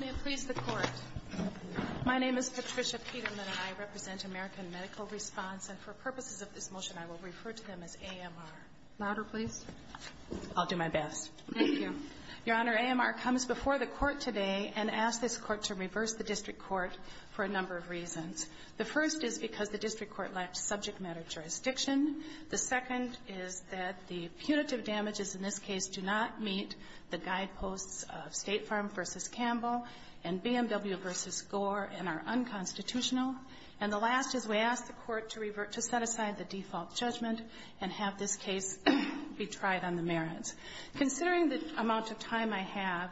May it please the Court. My name is Patricia Peterman. I represent American Medical Response, and for purposes of this motion, I will refer to them as AMR. Your Honor, AMR comes before the Court today and asks this Court to reverse the District Court for a number of reasons. The first is because the District Court lacks subject matter jurisdiction. The second is that the punitive damages in this case do not meet the guideposts of State Farm v. Campbell and BMW v. Gore and are unconstitutional. And the last is we ask the Court to set aside the default judgment and have this case be tried on the merits. Considering the amount of time I have,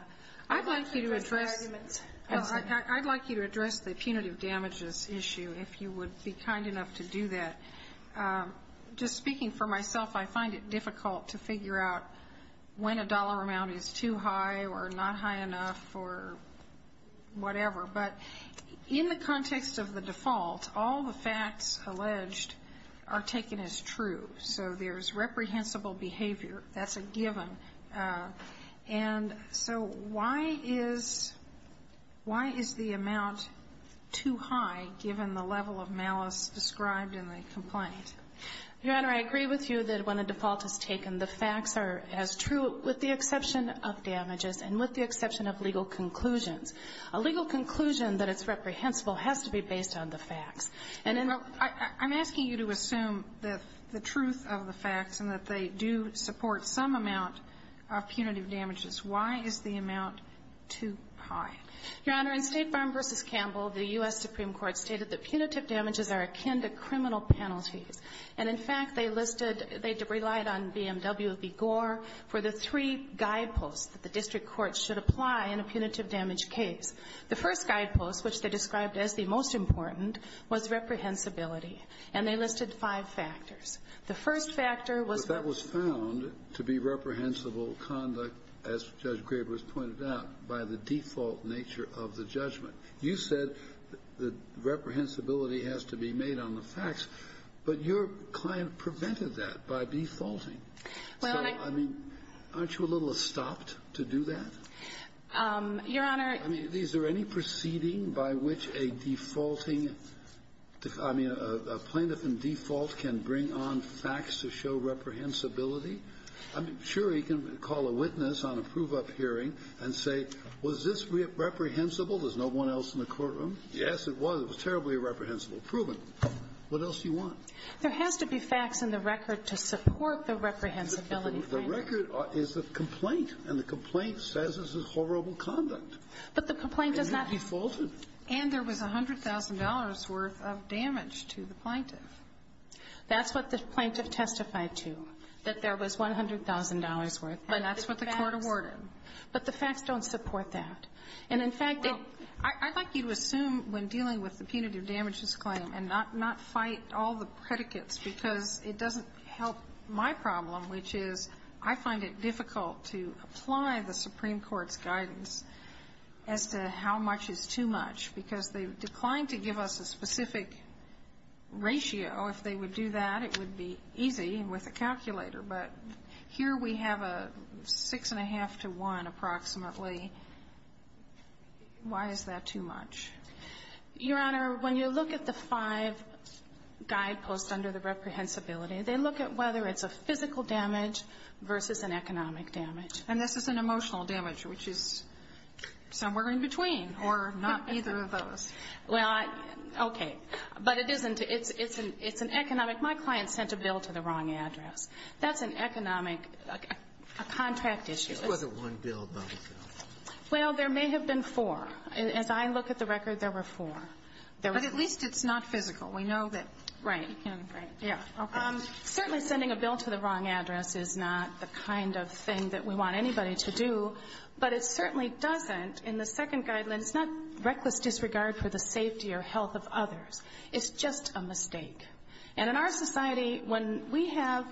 I'd like you to address the arguments. If you would be kind enough to do that. Just speaking for myself, I find it difficult to figure out when a dollar amount is too high or not high enough or whatever. But in the context of the default, all the facts alleged are taken as true. So there's reprehensible behavior. That's a given. And so why is the amount too high given the level of malice described in the complaint? Your Honor, I agree with you that when a default is taken, the facts are as true with the exception of damages and with the exception of legal conclusions. A legal conclusion that is reprehensible has to be based on the facts. I'm asking you to assume the truth of the facts and that they do support some amount of punitive damages. Why is the amount too high? Your Honor, in State Farm v. Campbell, the U.S. Supreme Court stated that punitive damages are akin to criminal penalties. And, in fact, they listed they relied on BMW v. Gore for the three guideposts that the district courts should apply in a punitive damage case. The first guidepost, which they described as the most important, was reprehensibility. And they listed five factors. The first factor was what was found to be reprehensible conduct, as Judge Graber has pointed out, by the default nature of the judgment. You said that reprehensibility has to be made on the facts. But your client prevented that by defaulting. So, I mean, aren't you a little stopped to do that? Your Honor ---- I mean, is there any proceeding by which a defaulting, I mean, a plaintiff in default can bring on facts to show reprehensibility? I mean, sure, you can call a witness on a prove-up hearing and say, was this reprehensible? There's no one else in the courtroom. Yes, it was. It was terribly reprehensible. Proven. What else do you want? There has to be facts in the record to support the reprehensibility finding. The record is a complaint, and the complaint says this is horrible conduct. But the complaint does not ---- And it defaulted. And there was $100,000 worth of damage to the plaintiff. That's what the plaintiff testified to, that there was $100,000 worth. But that's what the court awarded. But the facts don't support that. And, in fact, it ---- Well, I'd like you to assume, when dealing with the punitive damages claim, and not fight all the predicates, because it doesn't help my problem, which is I find it difficult to apply the Supreme Court's guidance as to how much is too much, because they declined to give us a specific ratio. If they would do that, it would be easy with a calculator. But here we have a 6-1⁄2 to 1, approximately. Why is that too much? Your Honor, when you look at the five guideposts under the reprehensibility, they look at whether it's a physical damage versus an economic damage. And this is an emotional damage, which is somewhere in between, or not either of those. Well, I ---- Okay. But it isn't. It's an economic. My client sent a bill to the wrong address. That's an economic ---- a contract issue. It wasn't one bill, though. Well, there may have been four. As I look at the record, there were four. But at least it's not physical. We know that ---- Right. Certainly sending a bill to the wrong address is not the kind of thing that we want anybody to do. But it certainly doesn't, in the second guideline, it's not reckless disregard for the safety or health of others. It's just a mistake. And in our society, when we have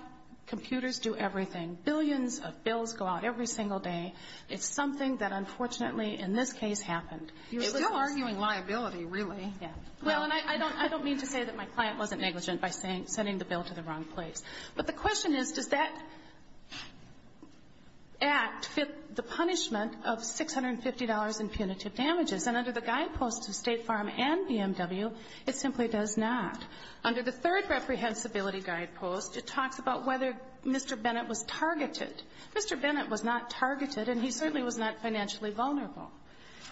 computers do everything, billions of bills go out every single day. It's something that, unfortunately, in this case, happened. You're still arguing liability, really. Yeah. Well, and I don't mean to say that my client wasn't negligent by sending the bill to the wrong place. But the question is, does that act fit the punishment of $650 in punitive damages? And under the guideposts of State Farm and BMW, it simply does not. Under the third reprehensibility guidepost, it talks about whether Mr. Bennett was targeted. Mr. Bennett was not targeted, and he certainly was not financially vulnerable.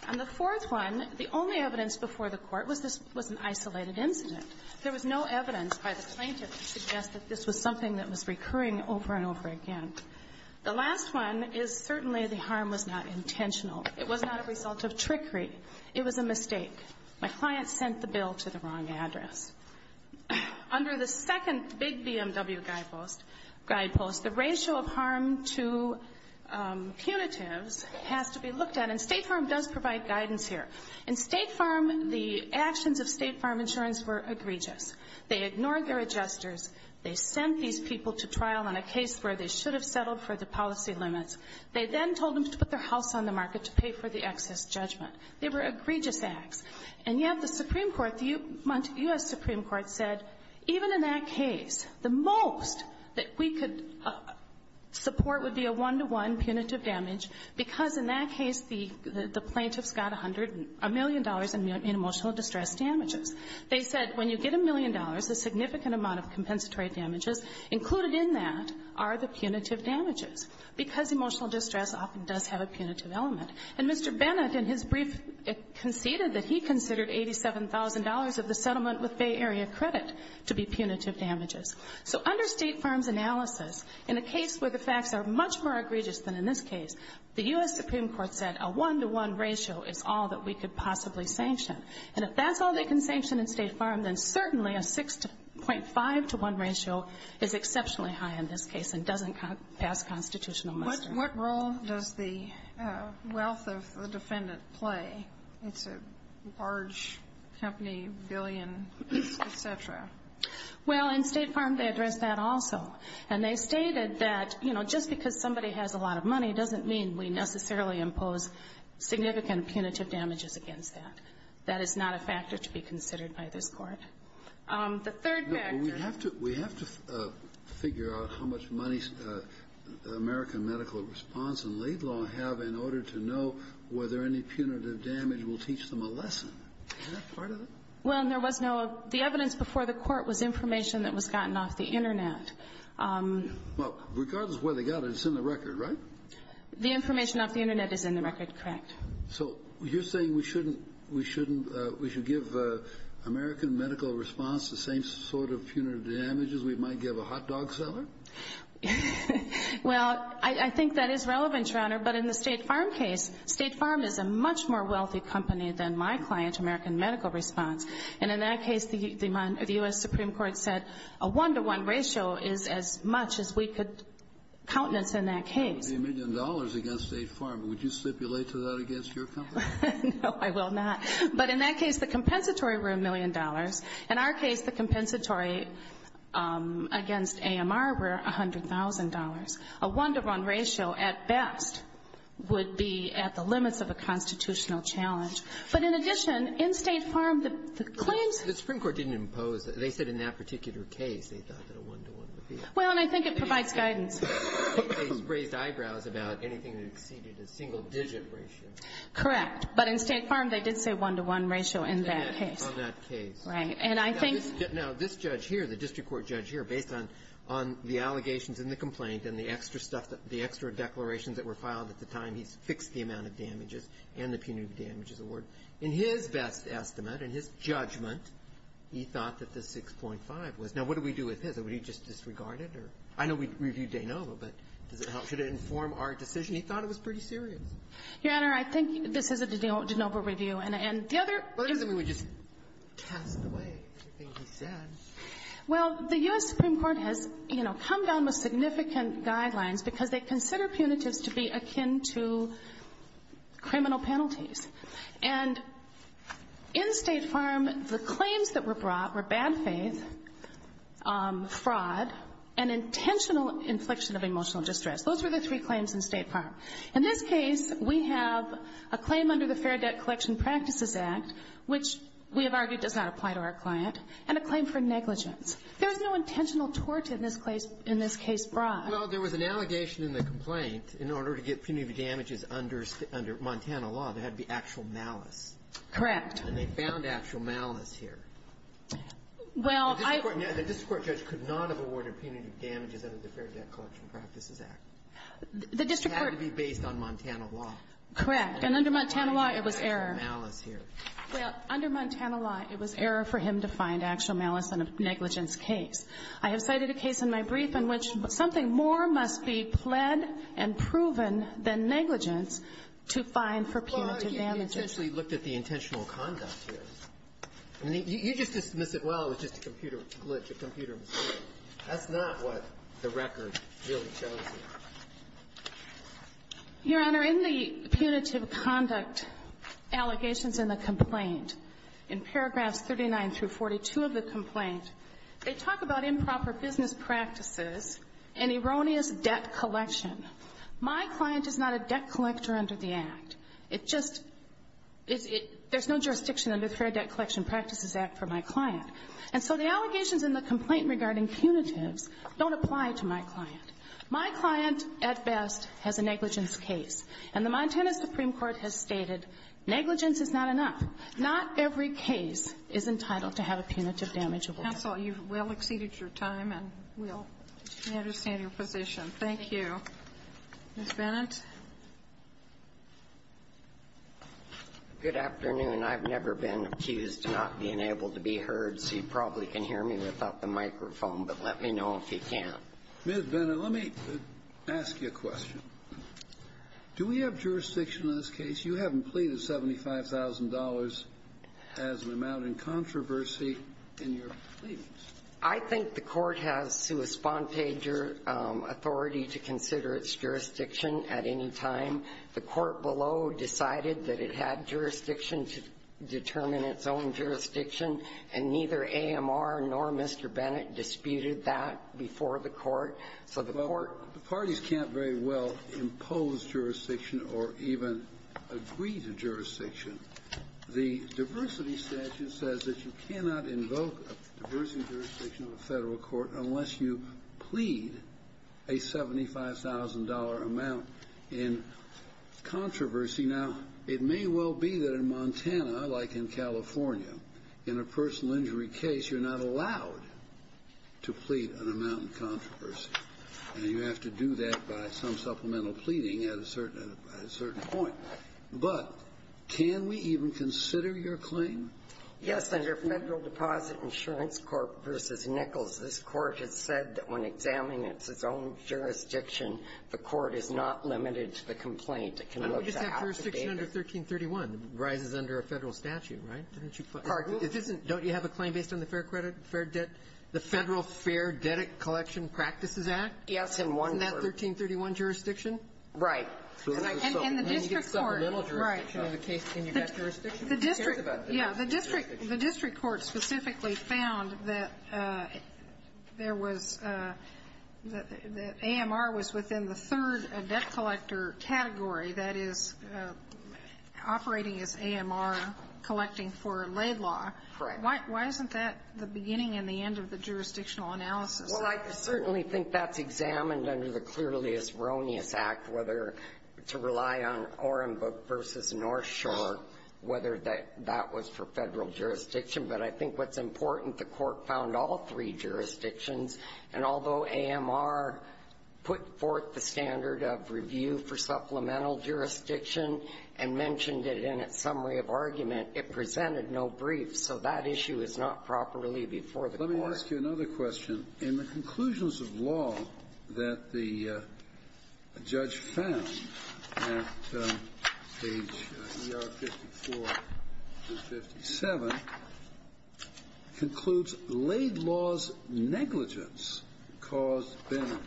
On the fourth one, the only evidence before the Court was this was an isolated incident. There was no evidence by the plaintiff to suggest that this was something that was recurring over and over again. The last one is certainly the harm was not intentional. It was not a result of trickery. It was a mistake. My client sent the bill to the wrong address. Under the second big BMW guidepost, the ratio of harm to punitives has to be looked at. And State Farm does provide guidance here. In State Farm, the actions of State Farm Insurance were egregious. They ignored their adjusters. They sent these people to trial on a case where they should have settled for the policy limits. They then told them to put their house on the market to pay for the excess judgment. They were egregious acts. And yet the Supreme Court, the U.S. Supreme Court, said even in that case, the most that we could support would be a one-to-one punitive damage because, in that case, the plaintiffs got $1 million in emotional distress damages. They said when you get $1 million, the significant amount of compensatory damages included in that are the punitive damages because emotional distress often does have a punitive element. And Mr. Bennett, in his brief, conceded that he considered $87,000 of the settlement with Bay Area Credit to be punitive damages. So under State Farm's analysis, in a case where the facts are much more egregious than in this case, the U.S. Supreme Court said a one-to-one ratio is all that we could possibly sanction. And if that's all they can sanction in State Farm, then certainly a 6.5-to-1 ratio is exceptionally high in this case and doesn't pass constitutional muster. What role does the wealth of the defendant play? It's a large company, billion, et cetera. Well, in State Farm, they addressed that also. And they stated that, you know, just because somebody has a lot of money doesn't mean we necessarily impose significant punitive damages against that. That is not a factor to be considered by this Court. The third factor we have to figure out how much money American medical response and Laidlaw have in order to know whether any punitive damage will teach them a lesson. Is that part of it? Well, there was no. The evidence before the Court was information that was gotten off the Internet. Well, regardless of where they got it, it's in the record, right? The information off the Internet is in the record, correct. So you're saying we should give American medical response the same sort of punitive damages we might give a hot dog seller? Well, I think that is relevant, Your Honor. But in the State Farm case, State Farm is a much more wealthy company than my client, American Medical Response. And in that case, the U.S. Supreme Court said a 1-to-1 ratio is as much as we could countenance in that case. A million dollars against State Farm. Would you stipulate to that against your company? No, I will not. But in that case, the compensatory were a million dollars. In our case, the compensatory against AMR were $100,000. A 1-to-1 ratio at best would be at the limits of a constitutional challenge. But in addition, in State Farm, the claims ---- The Supreme Court didn't impose that. They said in that particular case they thought that a 1-to-1 would be. Well, and I think it provides guidance. They raised eyebrows about anything that exceeded a single-digit ratio. Correct. But in State Farm, they did say 1-to-1 ratio in that case. In that case. Right. And I think ---- Now, this judge here, the district court judge here, based on the allegations in the complaint and the extra stuff, the extra declarations that were filed at the time, he's fixed the amount of damages and the punitive damages award. In his best estimate, in his judgment, he thought that the 6.5 was. Now, what do we do with his? Would he just disregard it? I know we reviewed de novo, but does it help? Should it inform our decision? He thought it was pretty serious. Your Honor, I think this is a de novo review. And the other ---- Well, that doesn't mean we just cast it away. I think he said. Well, the U.S. Supreme Court has, you know, come down with significant guidelines because they consider punitives to be akin to criminal penalties. And in State Farm, the claims that were brought were bad faith, fraud, and intentional infliction of emotional distress. Those were the three claims in State Farm. In this case, we have a claim under the Fair Debt Collection Practices Act, which we have argued does not apply to our client, and a claim for negligence. There was no intentional tort in this case brought. Well, there was an allegation in the complaint in order to get punitive damages under Montana law, there had to be actual malice. Correct. And they found actual malice here. Well, I ---- The district court judge could not have awarded punitive damages under the Fair Debt Collection Practices Act. The district court ---- It had to be based on Montana law. Correct. And under Montana law, it was error. Well, under Montana law, it was error for him to find actual malice in a negligence case. I have cited a case in my brief in which something more must be pled and proven than negligence to find for punitive damages. Well, I think you intentionally looked at the intentional conduct here. You just dismiss it, well, it was just a computer glitch, a computer mistake. That's not what the record really shows here. Your Honor, in the punitive conduct allegations in the complaint, in paragraphs 39 through 42 of the complaint, they talk about improper business practices and erroneous debt collection. My client is not a debt collector under the Act. It just is ---- there's no jurisdiction under the Fair Debt Collection Practices Act for my client. And so the allegations in the complaint regarding punitives don't apply to my client. My client, at best, has a negligence case. And the Montana Supreme Court has stated negligence is not enough. Not every case is entitled to have a punitive damage award. Counsel, you've well exceeded your time, and we all understand your position. Thank you. Ms. Bennett. Good afternoon. I've never been accused of not being able to be heard, so you probably can hear me without the microphone, but let me know if you can. Ms. Bennett, let me ask you a question. Do we have jurisdiction in this case? You haven't pleaded $75,000 as an amount in controversy in your pleadings. I think the Court has sua sponte authority to consider its jurisdiction at any time. The Court below decided that it had jurisdiction to determine its own jurisdiction, and neither AMR nor Mr. Bennett disputed that before the Court. So the Court ---- Well, the parties can't very well impose jurisdiction or even agree to jurisdiction. The diversity statute says that you cannot invoke a diversity jurisdiction of a federal court unless you plead a $75,000 amount in controversy. Now, it may well be that in Montana, like in California, in a personal injury case, you're not allowed to plead an amount in controversy, and you have to do that by some supplemental pleading at a certain point. But can we even consider your claim? Yes, under Federal Deposit Insurance Corp. v. Nichols, this Court has said that when examining its own jurisdiction, the Court is not limited to the complaint. It can look to half the data. And we just have jurisdiction under 1331. It rises under a federal statute, right? Pardon? Don't you have a claim based on the fair credit, fair debt? The Federal Fair Debt Collection Practices Act? Yes, in one form. In that 1331 jurisdiction? Right. And the district court. Right. Can you get jurisdiction? Yeah. The district court specifically found that there was the AMR was within the third debt collector category, that is, operating as AMR collecting for a laid law. Right. Why isn't that the beginning and the end of the jurisdictional analysis? Well, I certainly think that's examined under the Cluralius-Veronius Act, whether to rely on Orenboek v. North Shore, whether that was for Federal jurisdiction. But I think what's important, the Court found all three jurisdictions. And although AMR put forth the standard of review for supplemental jurisdiction and mentioned it in its summary of argument, it presented no brief. So that issue is not properly before the Court. Let me ask you another question. In the conclusions of law that the judge found at page ER 54 and 57, concludes laid laws negligence caused Bennett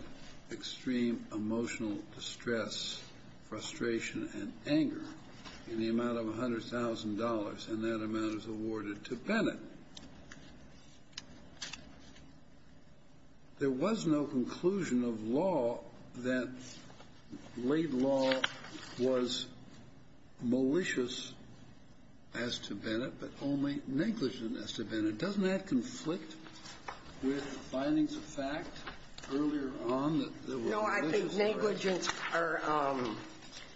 extreme emotional distress, frustration, and anger in the amount of $100,000. And that amount is awarded to Bennett. There was no conclusion of law that laid law was malicious as to Bennett, but only negligent as to Bennett. Doesn't that conflict with findings of fact earlier on that there were malicious words?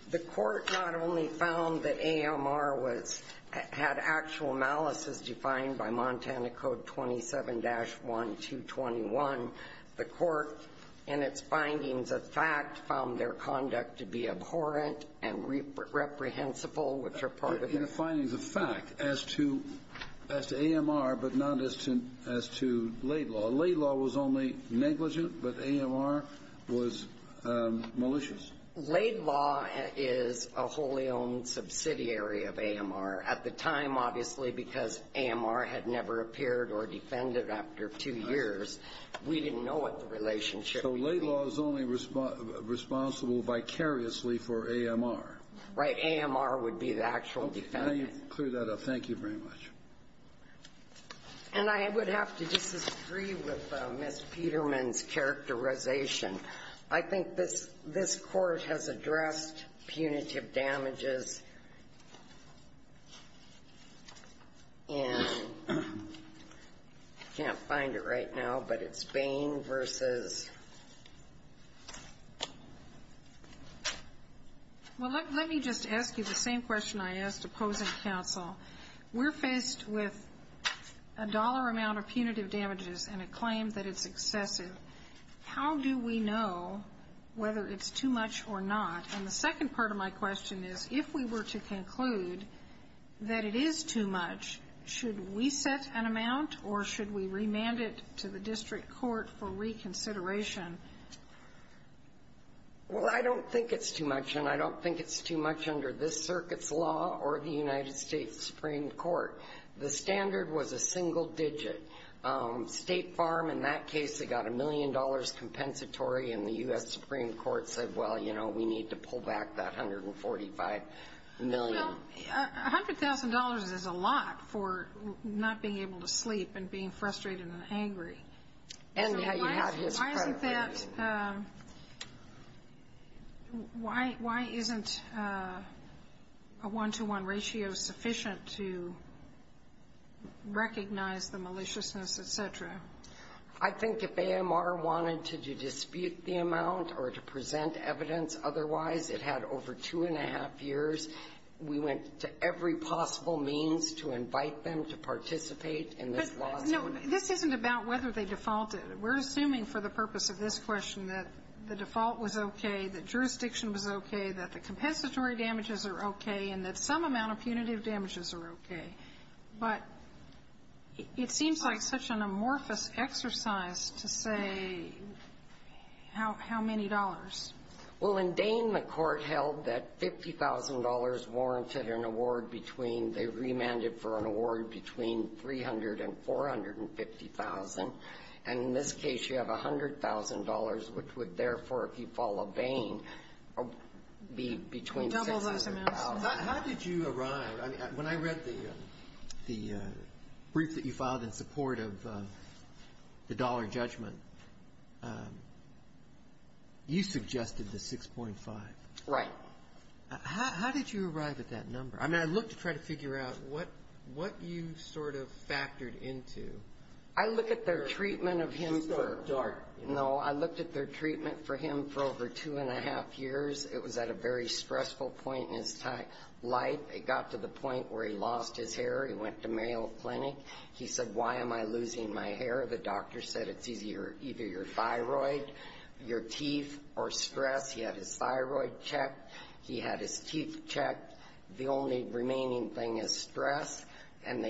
The Court not only found that AMR had actual malice as defined by Montana Code 27-1, 221. The Court, in its findings of fact, found their conduct to be abhorrent and reprehensible, which are part of the findings of fact as to AMR, but not as to laid law. Laid law was only negligent, but AMR was malicious. Laid law is a wholly owned subsidiary of AMR. At the time, obviously, because AMR had never appeared or defended after two years, we didn't know what the relationship was. So laid law is only responsible vicariously for AMR. Right. AMR would be the actual defendant. Okay. Now you've cleared that up. Thank you very much. And I would have to disagree with Ms. Peterman's characterization. I think this Court has addressed punitive damages, and I can't find it right now, but it's Bain v. Well, let me just ask you the same question I asked opposing counsel. We're faced with a dollar amount of punitive damages and a claim that it's excessive. How do we know whether it's too much or not? And the second part of my question is, if we were to conclude that it is too much, should we set an amount or should we remand it to the district court for reconsideration? Well, I don't think it's too much, and I don't think it's too much under this circuit's law or the United States Supreme Court. The standard was a single digit. State Farm, in that case, they got a million dollars compensatory, and the U.S. Supreme Court said, well, you know, we need to pull back that $145 million. Well, $100,000 is a lot for not being able to sleep and being frustrated and angry. And now you have his credibility. Why isn't that why isn't a one-to-one ratio sufficient to recognize the maliciousness, et cetera? I think if AMR wanted to dispute the amount or to present evidence otherwise, it had over two and a half years. We went to every possible means to invite them to participate in this lawsuit. No, this isn't about whether they defaulted. We're assuming for the purpose of this question that the default was okay, that jurisdiction was okay, that the compensatory damages are okay, and that some amount of punitive damages are okay. But it seems like such an amorphous exercise to say how many dollars. Well, in Dane, the court held that $50,000 warranted an award between they remanded for an award between $300,000 and $450,000. And in this case, you have $100,000, which would, therefore, if you follow Dane, be between $600,000. How did you arrive? When I read the brief that you filed in support of the dollar judgment, you suggested the 6.5. Right. How did you arrive at that number? I mean, I looked to try to figure out what you sort of factored into. I looked at their treatment of him for over two and a half years. It was at a very stressful point in his life. It got to the point where he lost his hair. He went to Mayo Clinic. He said, why am I losing my hair? The doctor said it's either your thyroid, your teeth, or stress. He had his thyroid checked. He had his teeth checked. The only remaining thing is stress. And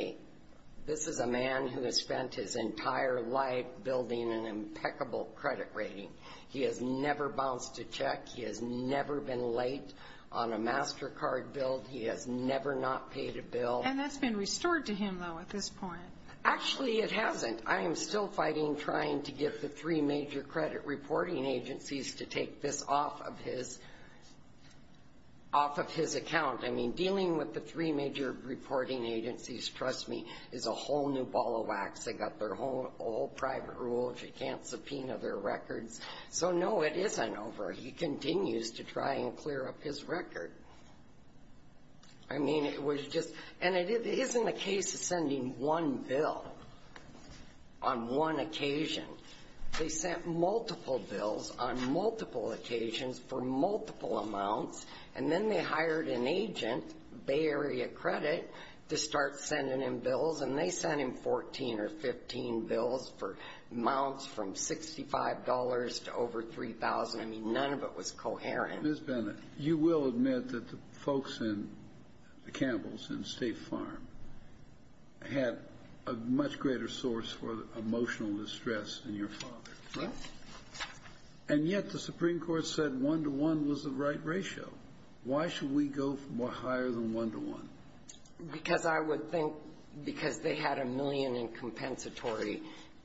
this is a man who has spent his entire life building an impeccable credit rating. He has never bounced a check. He has never been late on a MasterCard bill. He has never not paid a bill. And that's been restored to him, though, at this point. Actually, it hasn't. I am still fighting trying to get the three major credit reporting agencies to take this off of his account. I mean, dealing with the three major reporting agencies, trust me, is a whole new ball of wax. They've got their whole private rules. You can't subpoena their records. So, no, it isn't over. He continues to try and clear up his record. I mean, it was just – and it isn't a case of sending one bill on one occasion. They sent multiple bills on multiple occasions for multiple amounts, and then they hired an agent, Bay Area Credit, to start sending him bills, and they sent him 14 or 15 bills for amounts from $65 to over $3,000. I mean, none of it was coherent. Ms. Bennett, you will admit that the folks in the Campbells, in State Farm, had a much greater source for emotional distress than your father. Yes. And yet the Supreme Court said one-to-one was the right ratio. Why should we go higher than one-to-one? Because I would think because they had a million in compensatory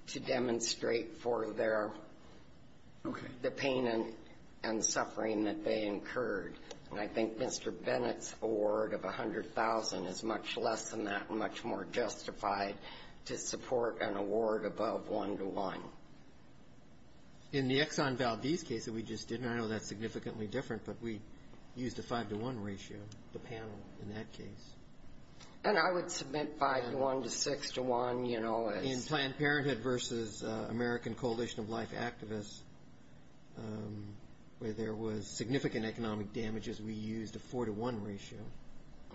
to demonstrate for their – Okay. the pain and suffering that they incurred. And I think Mr. Bennett's award of $100,000 is much less than that and much more justified to support an award above one-to-one. In the Exxon Valdez case that we just did, and I know that's significantly different, but we used a five-to-one ratio, the panel, in that case. And I would submit five-to-one to six-to-one, you know, as – In Planned Parenthood versus American Coalition of Life Activists, where there was significant economic damages, we used a four-to-one ratio.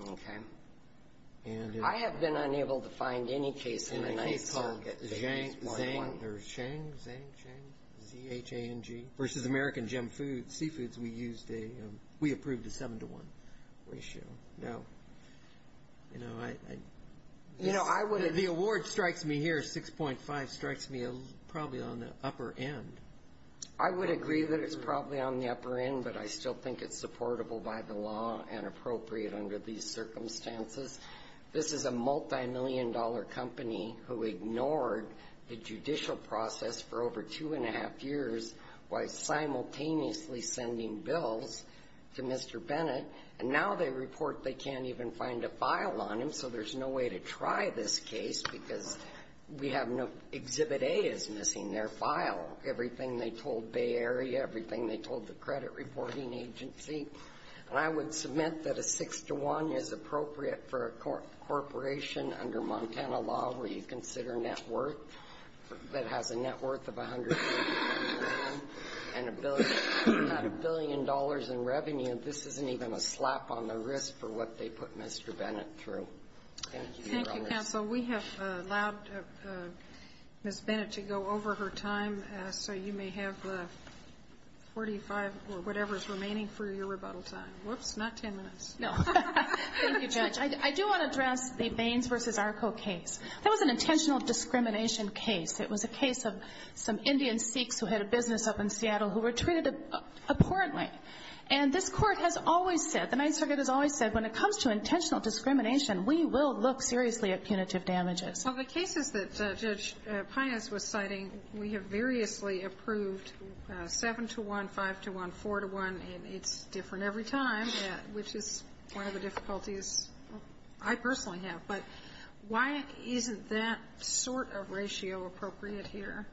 Okay. I have been unable to find any case in the case – In the case of Zhang, Zhang, Zhang, Zhang, Z-H-A-N-G, versus American Gem Foods, Seafoods, we used a – we approved a seven-to-one ratio. Now, you know, I – The award strikes me here, 6.5, strikes me probably on the upper end. I would agree that it's probably on the upper end, but I still think it's supportable by the law and appropriate under these circumstances. This is a multimillion-dollar company who ignored the judicial process for over two-and-a-half years while simultaneously sending bills to Mr. Bennett, and now they report they can't even find a file on him, so there's no way to try this case because we have no – Exhibit A is missing their file, everything they told Bay Area, everything they told the credit reporting agency. And I would submit that a six-to-one is appropriate for a corporation under Montana law where you consider net worth, that has a net worth of $150 million, and a billion dollars in revenue, this isn't even a slap on the wrist for what they put Mr. Bennett through. Thank you, Your Honors. Thank you, Counsel. We have allowed Ms. Bennett to go over her time, so you may have 45 or whatever is remaining for your rebuttal time. Whoops, not 10 minutes. No. Thank you, Judge. I do want to address the Baines v. Arco case. That was an intentional discrimination case. It was a case of some Indian Sikhs who had a business up in Seattle who were treated abhorrently. And this Court has always said, the Ninth Circuit has always said, when it comes to intentional discrimination, we will look seriously at punitive damages. Well, the cases that Judge Pinus was citing, we have variously approved seven-to-one, five-to-one, four-to-one, and it's different every time, which is one of the difficulties I personally have. But why isn't that sort of ratio appropriate here?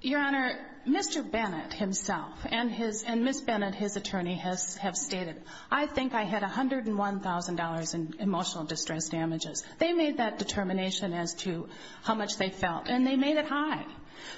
Your Honor, Mr. Bennett himself and Ms. Bennett, his attorney, have stated, I think I had $101,000 in emotional distress damages. They made that determination as to how much they felt, and they made it high.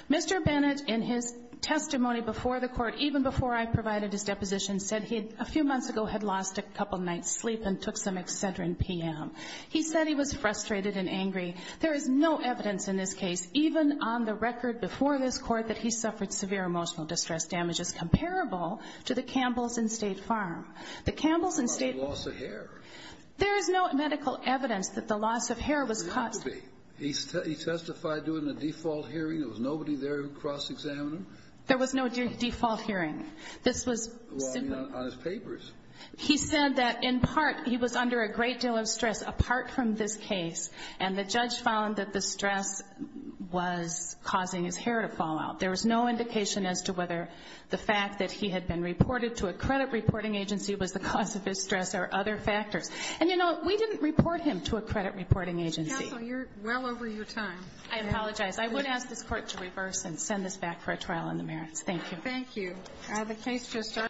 Mr. Bennett, in his testimony before the Court, even before I provided his deposition, said he, a few months ago, had lost a couple nights' sleep and took some Excedrin PM. He said he was frustrated and angry. There is no evidence in this case, even on the record before this Court, that he suffered severe emotional distress damages comparable to the Campbells and State Farm. The Campbells and State Farm. He lost a hair. There is no medical evidence that the loss of hair was caused. It could be. He testified during the default hearing. There was nobody there to cross-examine him. There was no default hearing. This was simply... Well, I mean, on his papers. He said that, in part, he was under a great deal of stress apart from this case, and the judge found that the stress was causing his hair to fall out. There was no indication as to whether the fact that he had been reported to a credit reporting agency was the cause of his stress or other factors. And, you know, we didn't report him to a credit reporting agency. Counsel, you're well over your time. I apologize. I would ask this Court to reverse and send this back for a trial on the merits. Thank you. Thank you. The case just started.